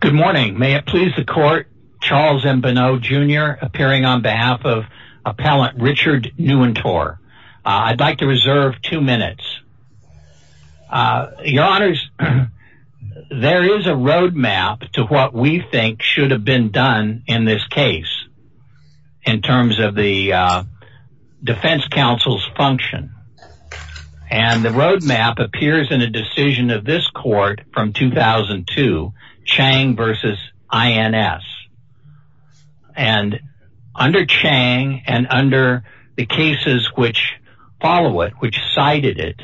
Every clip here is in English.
Good morning. May it please the court, Charles M. Bonneau Jr. appearing on behalf of appellant Richard Nuwintore. I'd like to reserve two minutes. Your honors, there is a roadmap to what we think should have been done in this case in terms of the defense counsel's function. And the roadmap appears in a decision of this court from 2002, Chang versus INS. And under Chang and under the cases which follow it, which cited it,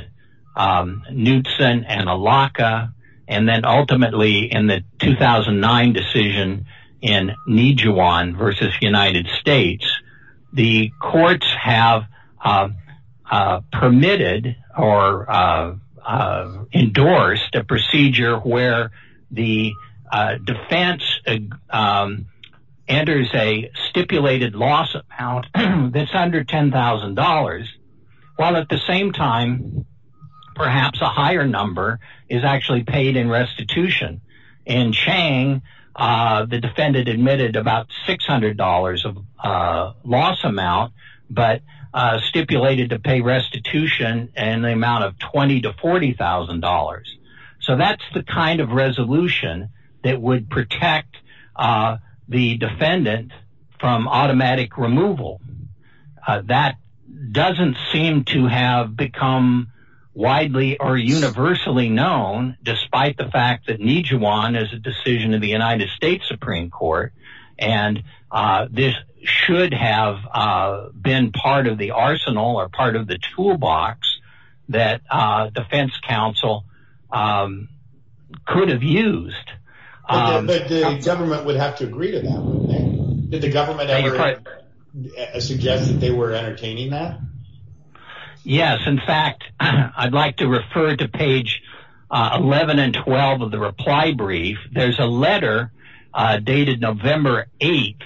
Knutson and Alaka, and then permitted or endorsed a procedure where the defense enters a stipulated loss amount that's under $10,000, while at the same time, perhaps a higher number is actually paid in restitution. In Chang, the defendant admitted about $600 of loss amount, but stipulated to pay restitution and the amount of $20,000 to $40,000. So that's the kind of resolution that would protect the defendant from automatic removal. That doesn't seem to have become widely or universally known, despite the fact that decision in the United States Supreme Court, and this should have been part of the arsenal or part of the toolbox that defense counsel could have used. But the government would have to agree to that. Did the government ever suggest that they were entertaining that? Yes, in fact, I'd like to refer to page 11 and 12 of the reply brief, there's a letter dated November 8.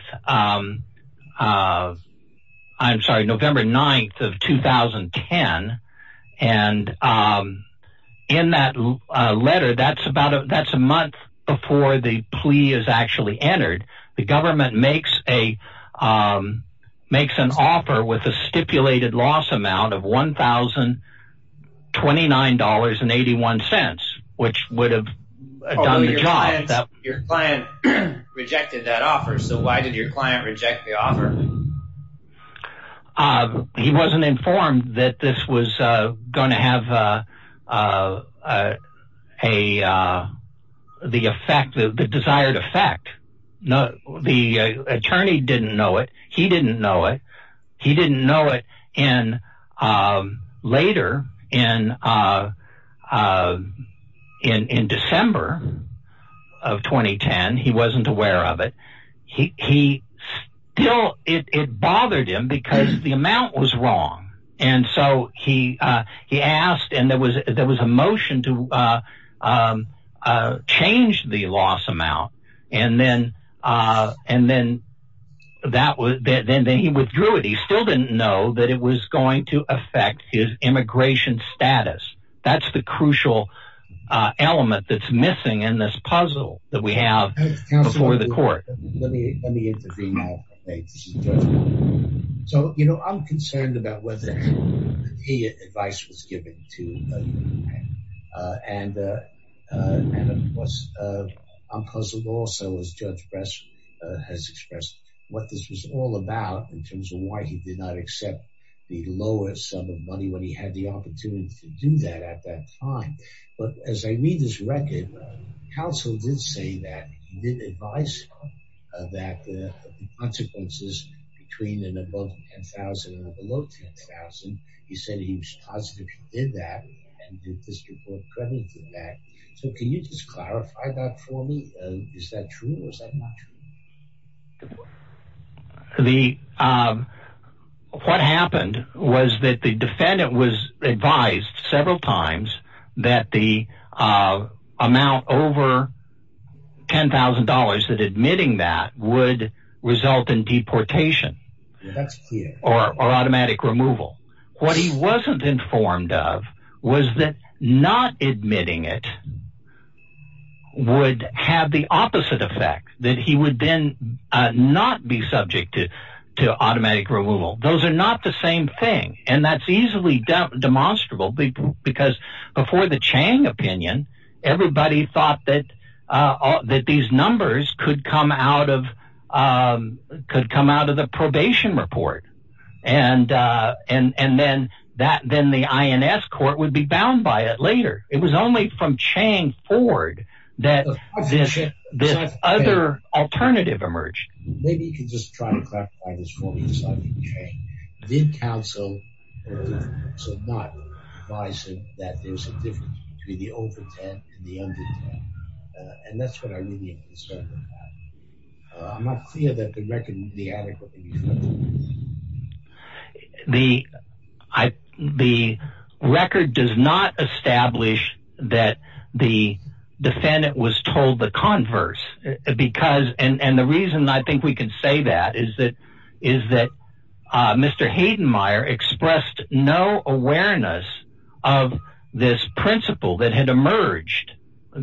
I'm sorry, November 9 of 2010. And in that letter, that's about a that's a month before the plea is actually entered. The government makes a makes an offer with a stipulated loss amount of $1,029.81, which would have done the job that your client rejected that offer. So why did your client reject the offer? He wasn't informed that this was going to have a, the effect of the desired effect. No, the attorney didn't know it. He didn't know it. He didn't know it. And later in in December of 2010, he wasn't aware of it. He still it bothered him because the amount was wrong. And so he, he asked and there was there was a motion to change the loss amount. And then and then that was then he withdrew it, he still didn't know that it was going to affect his immigration status. That's the crucial element that's missing in this puzzle that we have before the court. So, you know, I'm concerned about whether he advice was given to. And I'm puzzled also, as Judge Bress has expressed what this was all about in terms of why he did not accept the lowest sum of money when he had the advice that the consequences between an above 10,000 and a below 10,000. He said he was positive he did that and did this report crediting that. So can you just clarify that for me? Is that true or is that not true? The what happened was that the defendant was advised several times that the amount over $10,000 that admitting that would result in deportation or automatic removal. What he wasn't informed of was that not admitting it would have the opposite effect that he would then not be subject to, to automatic removal. Those are not the same thing. And that's easily demonstrable. Because before the Chang opinion, everybody thought that, that these numbers could come out of could come out of the probation report. And, and then that then the INS court would be bound by it this other alternative emerged. Maybe you can just try to clarify this for me. Did counsel not advise him that there's a difference between the over 10 and the under 10? And that's what I'm really concerned about. I'm not clear that the record would be adequate. The I, the record does not establish that the defendant was told the converse, because and the reason I think we can say that is that is that Mr. Hayden Meyer expressed no awareness of this principle that had emerged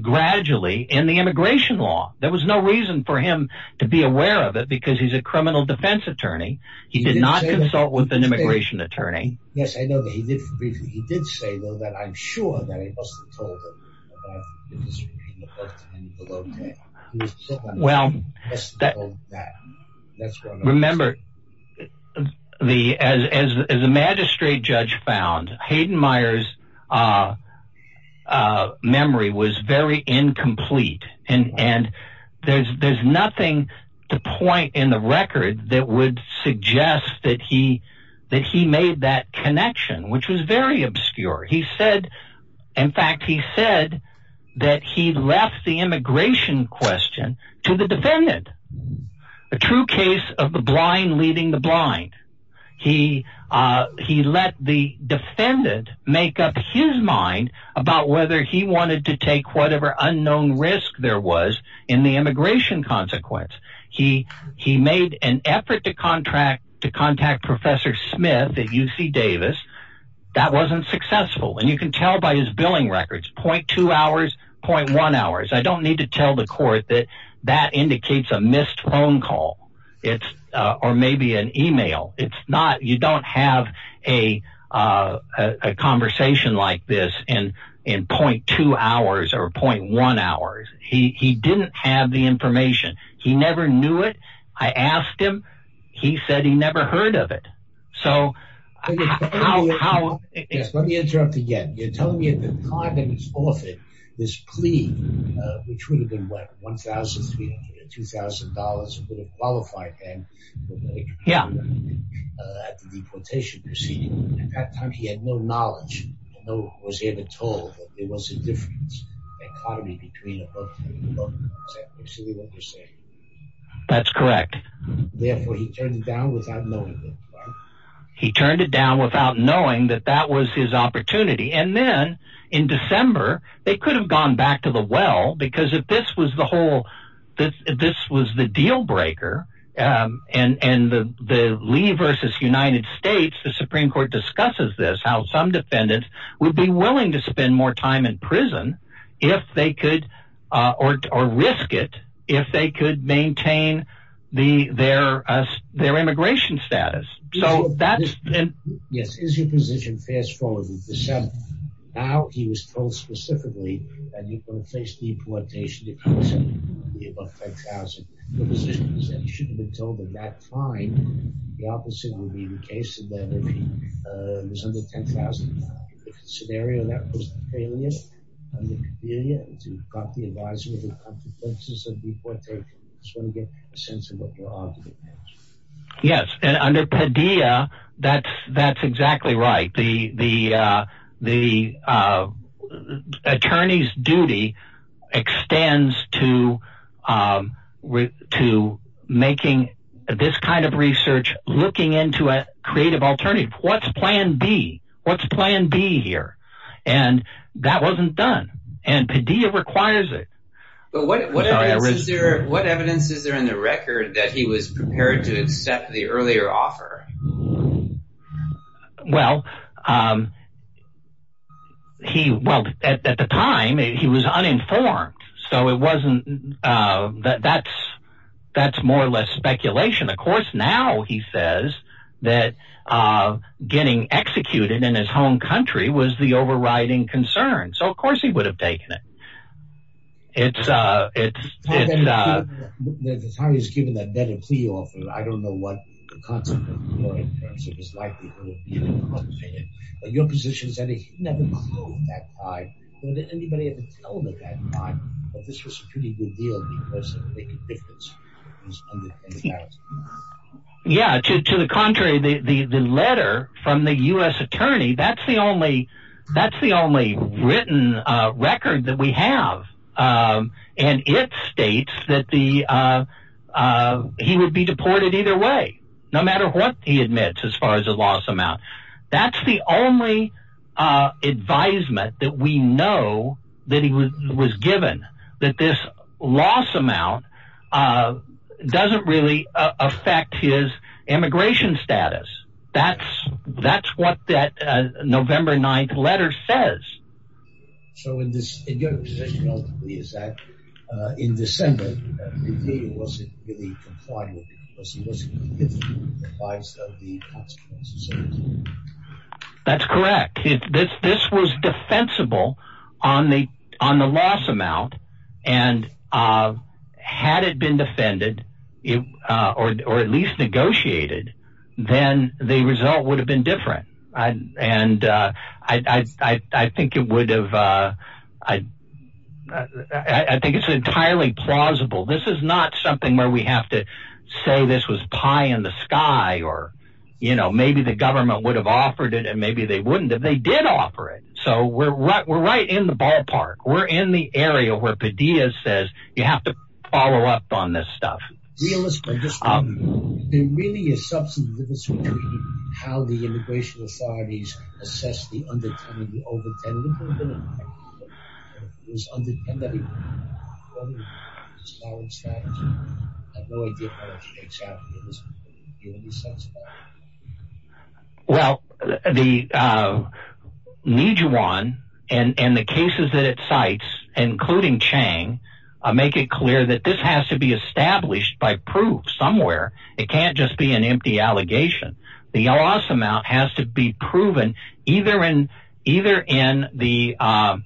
gradually in the immigration law, there he's a criminal defense attorney. He did not consult with an immigration attorney. Yes, I know that he did. He did say, though, that I'm sure that he wasn't told. Well, that's, remember, the as the magistrate judge found Hayden Myers memory was very incomplete. And, and there's, there's nothing to point in the record that would suggest that he that he made that connection, which was very obscure. He said, in fact, he said that he left the immigration question to the defendant, a true case of the blind leading the blind. He, he let the defendant make up his mind about whether he wanted to take whatever unknown risk there was in the immigration consequence. He, he made an effort to contract to contact Professor Smith at UC Davis. That wasn't successful. And you can tell by his billing records, point two hours, point one hours, I don't need to tell the court that that indicates a missed phone call. It's or maybe an email. It's not you don't have a conversation like this. And in point two hours, or point one hours, he didn't have the information. He never knew it. I asked him. He said he never heard of it. So how let me interrupt again, you're telling me at the time that he's offered this plea, which would have been what $1,300 $2,000 would have at the deportation proceeding. At that time, he had no knowledge. No, was he ever told that there was a difference economy between that's correct. Therefore, he turned it down without knowing. He turned it down without knowing that that was his opportunity. And then in December, they could have gone back to the well because if this was the whole, this was the deal breaker. And and the the Lee versus United States, the Supreme Court discusses this how some defendants would be willing to spend more time in prison, if they could, or risk it, if they could maintain the their, their immigration status. So that's yes, is your position. Fast forward to December. Now, he was told specifically, that he's going to face deportation. The position is that he shouldn't have been told at that time, the opposite would be the case. scenario that was a failure to cut the advisable consequences of deportation. So to get a sense of what you're arguing. Yes, and under Padilla. That's, that's exactly right. The the, the attorney's duty extends to with to making this kind of research looking into a creative alternative. What's plan B? What's plan B here? And that wasn't done. And Padilla requires it. But what evidence is there? What evidence is there in the record that he was prepared to accept the earlier offer? Well, he well, at the time, he was uninformed. So it wasn't that that's, that's more or less speculation. Of course, now he says that getting executed in his home country was the overriding concern. So of course, he would have taken it. It's, it's the time he's given that better plea offer. I don't know what the concept of your position is. Yeah, to the contrary, the letter from the US attorney, that's the only that's the only written record that we have. And it states that the he would be deported either way, no matter what he admits as far as a loss amount. That's the only advisement that we know that he was given that this loss amount doesn't really affect his immigration status. That's, that's what that November 9 letter says. So in this, in your position ultimately is that in December, Padilla wasn't really complying with it because he wasn't giving the price of the consequences of it. That's correct. This was defensible on the on the loss amount. And had it been defended, or at least negotiated, then the result would have been different. And I think it would have, I think it's entirely plausible. This is not something where we have to say this was pie in the sky, or, you know, maybe the government would have offered it. And maybe they wouldn't, if they did offer it. So we're right, we're right in the ballpark. We're in the area where Padilla says, you have to follow up on this stuff. Realistically, there really is substantive difference between how the immigration authorities assess the under 10 and the over 10. Well, the, uh, Nijuan, and the cases that it cites, including Chang, make it clear that this has to be established by proof somewhere. It can't just be an empty allegation. The loss amount has to be proven, either in, either in the state, or the local level. The, um,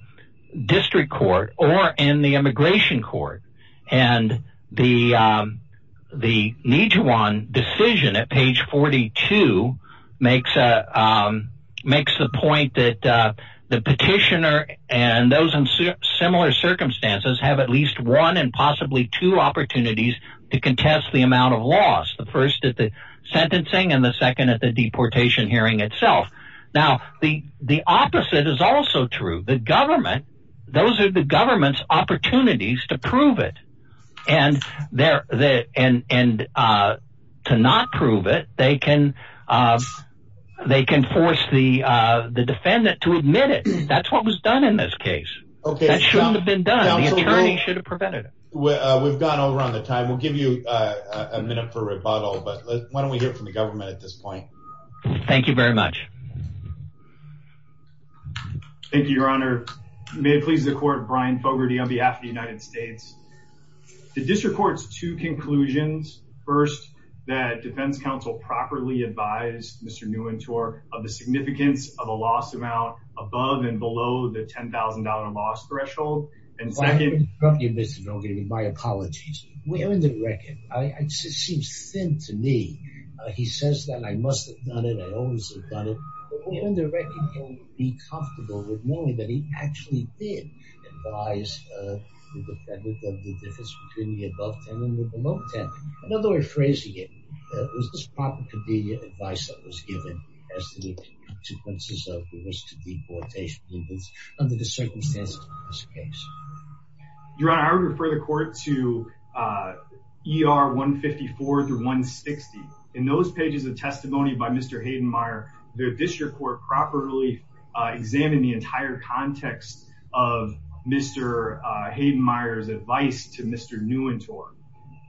district court or in the immigration court and the, um, the Nijuan decision at page 42 makes a, um, makes the point that, uh, the petitioner and those in similar circumstances have at least one and possibly two opportunities to contest the amount of loss. The first at the sentencing and the second at the deportation hearing itself. Now, the, the opposite is also true. The government, those are the government's opportunities to prove it. And there, the, and, and, uh, to not prove it, they can, uh, they can force the, uh, the defendant to admit it. That's what was done in this case. Okay. That shouldn't have been done. The attorney should have prevented it. Well, uh, we've gone over on the time. We'll give you a minute for rebuttal, but why don't we hear it from the government at this point? Thank you very much. Thank you, Your Honor. May it please the court, Brian Fogarty on behalf of the United States. The district court's two conclusions. First, that defense counsel properly advised Mr. Niuwentor of the significance of a loss amount above and below the $10,000 loss threshold. And second- If I can interrupt you, Mr. Niuwentor, my apologies. We're in the record. I, it seems thin to me. He says that I must have done it. I always have done it. We under-recommend that he be comfortable with knowing that he actually did advise the defendant of the difference between the above $10,000 and the below $10,000. Another way of phrasing it, it was this proper, convenient advice that was given as to the consequences of the risk of deportation, even under the circumstances of this case. Your Honor, I would refer the court to, uh, ER 154 through 160. In those pages of testimony by Mr. Hayden-Meyer, the district court properly examined the entire context of Mr. Hayden-Meyer's advice to Mr. Niuwentor.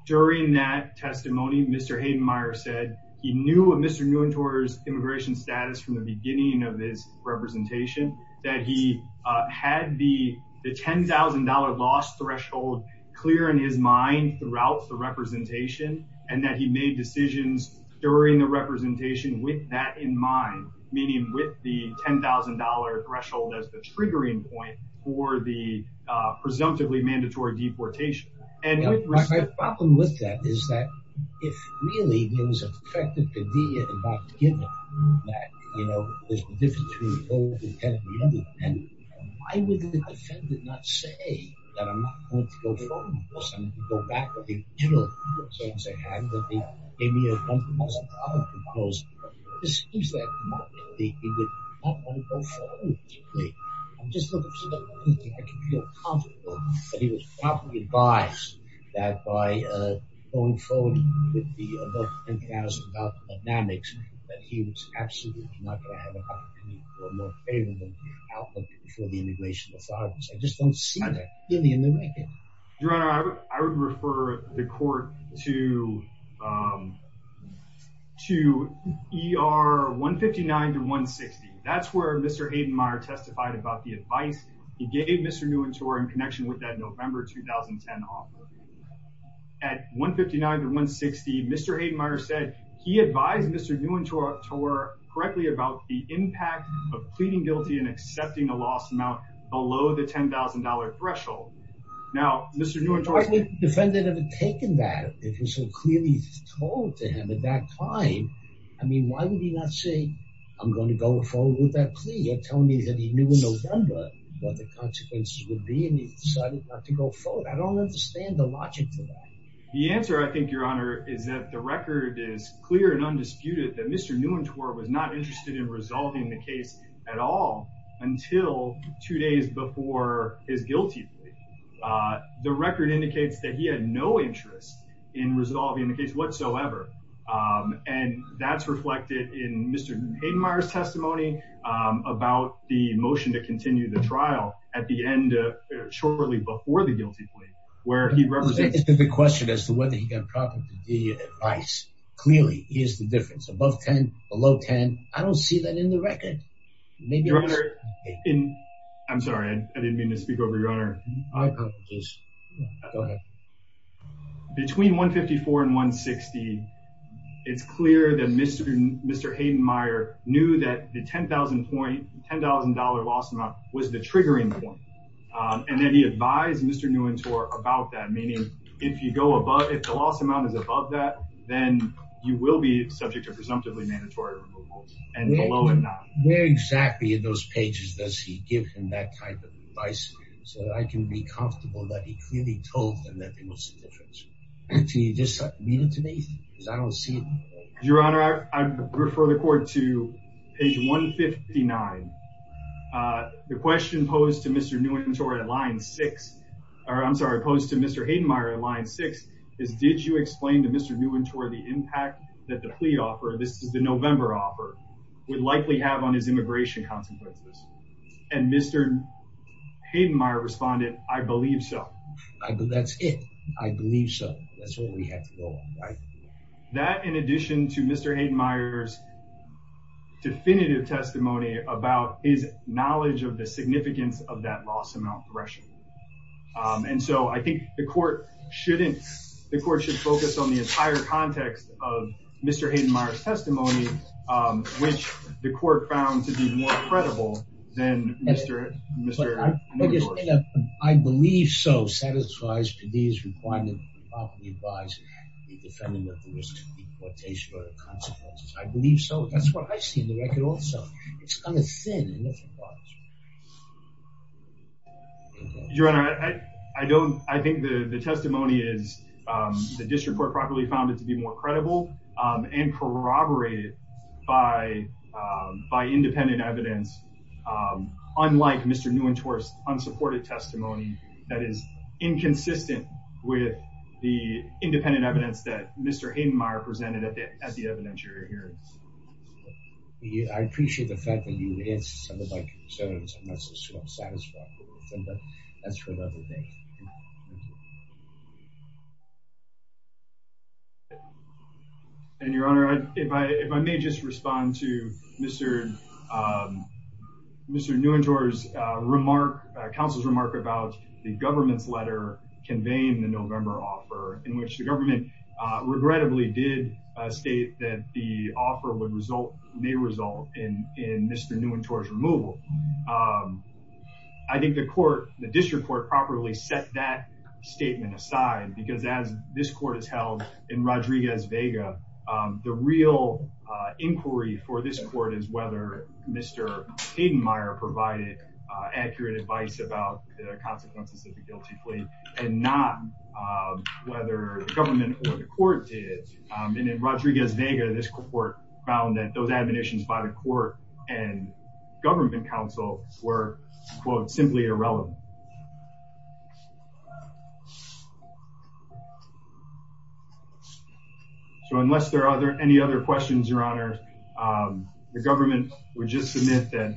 During that testimony, Mr. Hayden-Meyer said he knew of Mr. Niuwentor's immigration status from the beginning of his representation, that he had the $10,000 loss threshold clear in his mind throughout the representation, and that he made decisions during the representation with that in mind, meaning with the $10,000 threshold as the triggering point for the, uh, presumptively mandatory deportation. And my problem with that is that if really it was effective, convenient and not given that, you know, there's a difference between the above and the below $10,000, and why would the defendant not say that I'm not going to go forward with this? And to go back to the general view of things they had, that they gave me a compromise on the other proposals, excuse that, he would not want to go forward with me. I'm just looking for that, I can feel comfortable that he was properly advised that by, uh, going forward with the above $10,000 dynamics, that he was absolutely not going to have an opportunity for a more favorable outcome for the immigration authorities. I just don't see that clearly in the record. Your Honor, I would refer the court to, um, to ER 159 to 160. That's where Mr. Hayden-Meyer testified about the advice he gave Mr. Nguyen-Torre in connection with that November 2010 offer. At 159 to 160, Mr. Hayden-Meyer said he advised Mr. Nguyen-Torre correctly about the impact of pleading guilty and accepting a loss amount below the $10,000 threshold. Now, Mr. Nguyen-Torre... If the defendant had taken that, if it was so clearly told to him at that time, I mean, why would he not say, I'm going to go forward with that plea? You're telling me that he knew in November what the consequences would be and he decided not to go forward. I don't understand the logic to that. The answer, I think, Your Honor, is that the record is clear and undisputed that Mr. Nguyen-Torre was not interested in resolving the case at all until two days before his guilty plea. The record indicates that he had no interest in resolving the case whatsoever. And that's reflected in Mr. Hayden-Meyer's testimony about the motion to continue the trial at the end of, shortly before the guilty plea. It's a good question as to whether he got proper continued advice. Clearly, here's the difference. Above 10, below 10, I don't see that in the record. Your Honor, I'm sorry, I didn't mean to speak over you, Your Honor. Go ahead. Between $154,000 and $160,000, it's clear that Mr. Hayden-Meyer knew that the $10,000 loss amount was the triggering point. And then he advised Mr. Nguyen-Torre about that, meaning if the loss amount is above that, then you will be subject to presumptively mandatory removal. Where exactly in those pages does he give him that type of advice? So that I can be comfortable that he clearly told them that there was a difference. Can you just read it to me? Because I don't see it. Your Honor, I refer the court to page 159. The question posed to Mr. Nguyen-Torre at line 6, or I'm sorry, posed to Mr. Hayden-Meyer at line 6, is did you explain to Mr. Nguyen-Torre the impact that the plea offer, this is the November offer, would likely have on his immigration consequences? And Mr. Hayden-Meyer responded, I believe so. That's it. I believe so. That's what we have to go on, right? That, in addition to Mr. Hayden-Meyer's definitive testimony about his knowledge of the significance of that loss amount correction. And so I think the court should focus on the entire context of Mr. Hayden-Meyer's testimony, which the court found to be more credible than Mr. Nguyen-Torre. I believe so satisfies PD's requirement to properly advise the defendant of the risk of deportation or the consequences. I believe so. That's what I see in the record also. It's kind of thin in different parts. Your Honor, I don't, I think the testimony is, the district court probably found it to be more credible and corroborated by independent evidence. Unlike Mr. Nguyen-Torre's unsupported testimony that is inconsistent with the independent evidence that Mr. Hayden-Meyer presented at the evidentiary hearing. I appreciate the fact that you answered some of my concerns. I'm not so sure I'm satisfied with them, but that's for another day. And Your Honor, if I may just respond to Mr. Nguyen-Torre's remark, counsel's remark about the government's letter conveying the November offer. In which the government regrettably did state that the offer may result in Mr. Nguyen-Torre's removal. I think the court, the district court, properly set that statement aside. Because as this court has held in Rodriguez-Vega, the real inquiry for this court is whether Mr. Hayden-Meyer provided accurate advice about the consequences of the guilty plea. And not whether the government or the court did. And in Rodriguez-Vega, this court found that those admonitions by the court and government counsel were, quote, simply irrelevant. So unless there are any other questions, Your Honor, the government would just submit that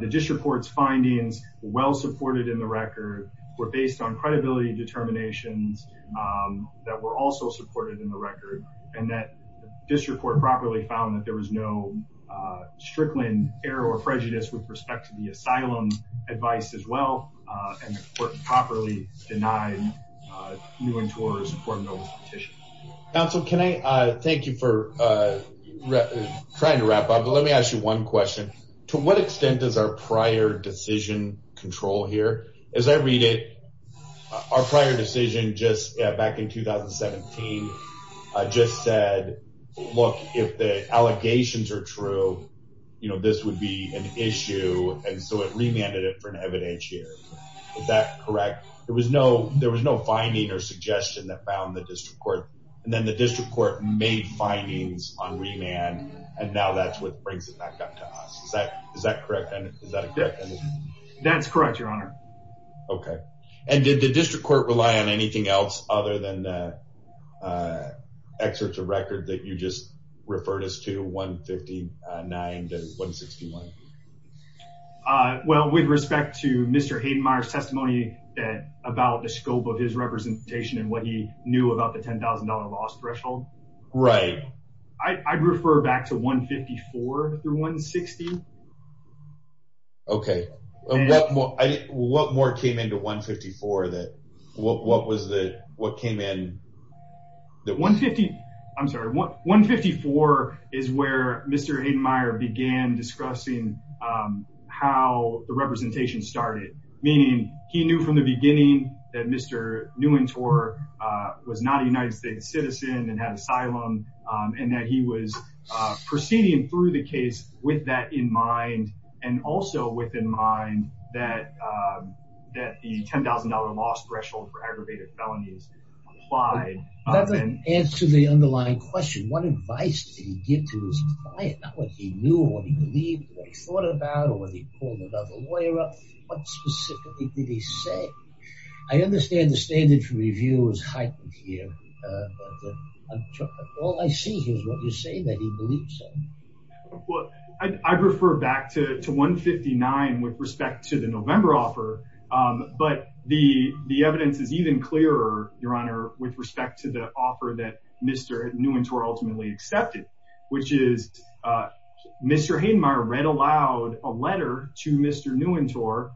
the district court's findings, well supported in the record, were based on credibility determinations that were also supported in the record. And that district court properly found that there was no strickland error or prejudice with respect to the asylum advice as well. And the court properly denied Nguyen-Torre's formal petition. Counsel, can I thank you for trying to wrap up. Let me ask you one question. To what extent does our prior decision control here? As I read it, our prior decision back in 2017 just said, look, if the allegations are true, this would be an issue. And so it remanded it for an evidentiary. Is that correct? There was no finding or suggestion that found the district court. And then the district court made findings on remand. And now that's what brings it back up to us. Is that correct? That's correct, Your Honor. Okay. And did the district court rely on anything else other than excerpts of record that you just referred us to, 159 to 161? Well, with respect to Mr. Haydenmeier's testimony about the scope of his representation and what he knew about the $10,000 loss threshold. Right. I'd refer back to 154 through 160. Okay. And what more came into 154 that, what was the, what came in? The 150, I'm sorry. 154 is where Mr. Haydenmeier began discussing how the representation started. Meaning he knew from the beginning that Mr. Nuentor was not a United States citizen and had asylum. And that he was proceeding through the case with that in mind. And also with in mind that the $10,000 loss threshold for aggravated felonies applied. That doesn't answer the underlying question. What advice did he give to his client? Not what he knew or what he believed or what he thought about. What specifically did he say? I understand the standard for review is heightened here. All I see is what you're saying, that he believed so. Well, I'd refer back to 159 with respect to the November offer. But the evidence is even clearer, Your Honor, with respect to the offer that Mr. Nuentor ultimately accepted. Which is, Mr. Haydenmeier read aloud a letter to Mr. Nuentor.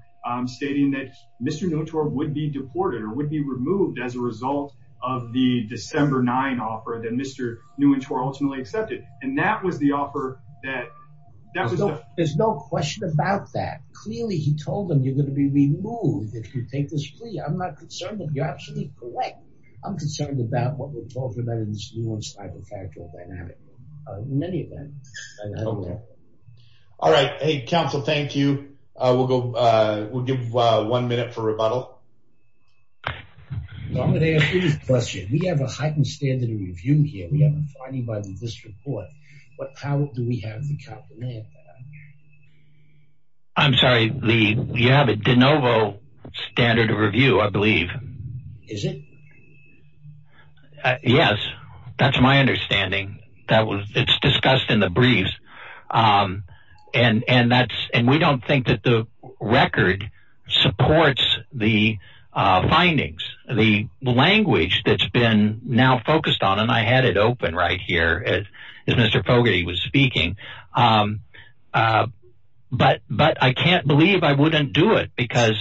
Stating that Mr. Nuentor would be deported or would be removed as a result of the December 9 offer that Mr. Nuentor ultimately accepted. And that was the offer that... There's no question about that. Clearly he told him, you're going to be removed if you take this plea. I'm not concerned, you're absolutely correct. I'm concerned about what would fall for that in this nuanced hypothetical dynamic. In any event, I don't know. All right. Hey, counsel, thank you. We'll give one minute for rebuttal. I'm going to ask you this question. We have a heightened standard of review here. We have a finding by the district court. What power do we have to complement that? I'm sorry, Lee. We have a de novo standard of review, I believe. Is it? Yes. That's my understanding. It's discussed in the briefs. And we don't think that the record supports the findings, the language that's been now focused on. And I had it open right here as Mr. Fogarty was speaking. But I can't believe I wouldn't do it. Because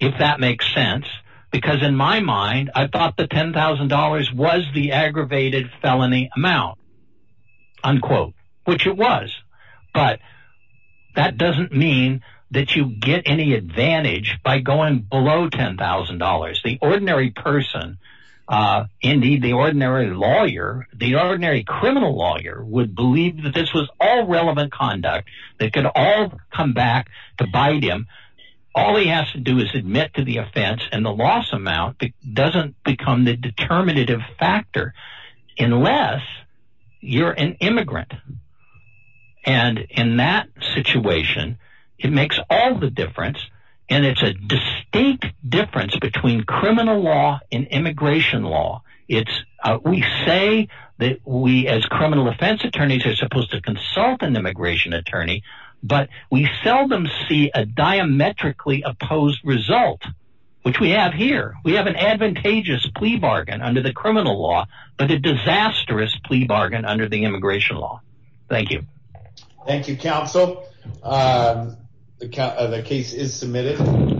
if that makes sense. Because in my mind, I thought the $10,000 was the aggravated felony amount. Unquote. Which it was. But that doesn't mean that you get any advantage by going below $10,000. The ordinary person, indeed the ordinary lawyer, the ordinary criminal lawyer, would believe that this was all relevant conduct. They could all come back to bite him. All he has to do is admit to the offense and the loss amount doesn't become the determinative factor. Unless you're an immigrant. And in that situation, it makes all the difference. And it's a distinct difference between criminal law and immigration law. We say that we as criminal offense attorneys are supposed to consult an immigration attorney. But we seldom see a diametrically opposed result. Which we have here. We have an advantageous plea bargain under the criminal law. But a disastrous plea bargain under the immigration law. Thank you. Thank you, counsel. The case is submitted.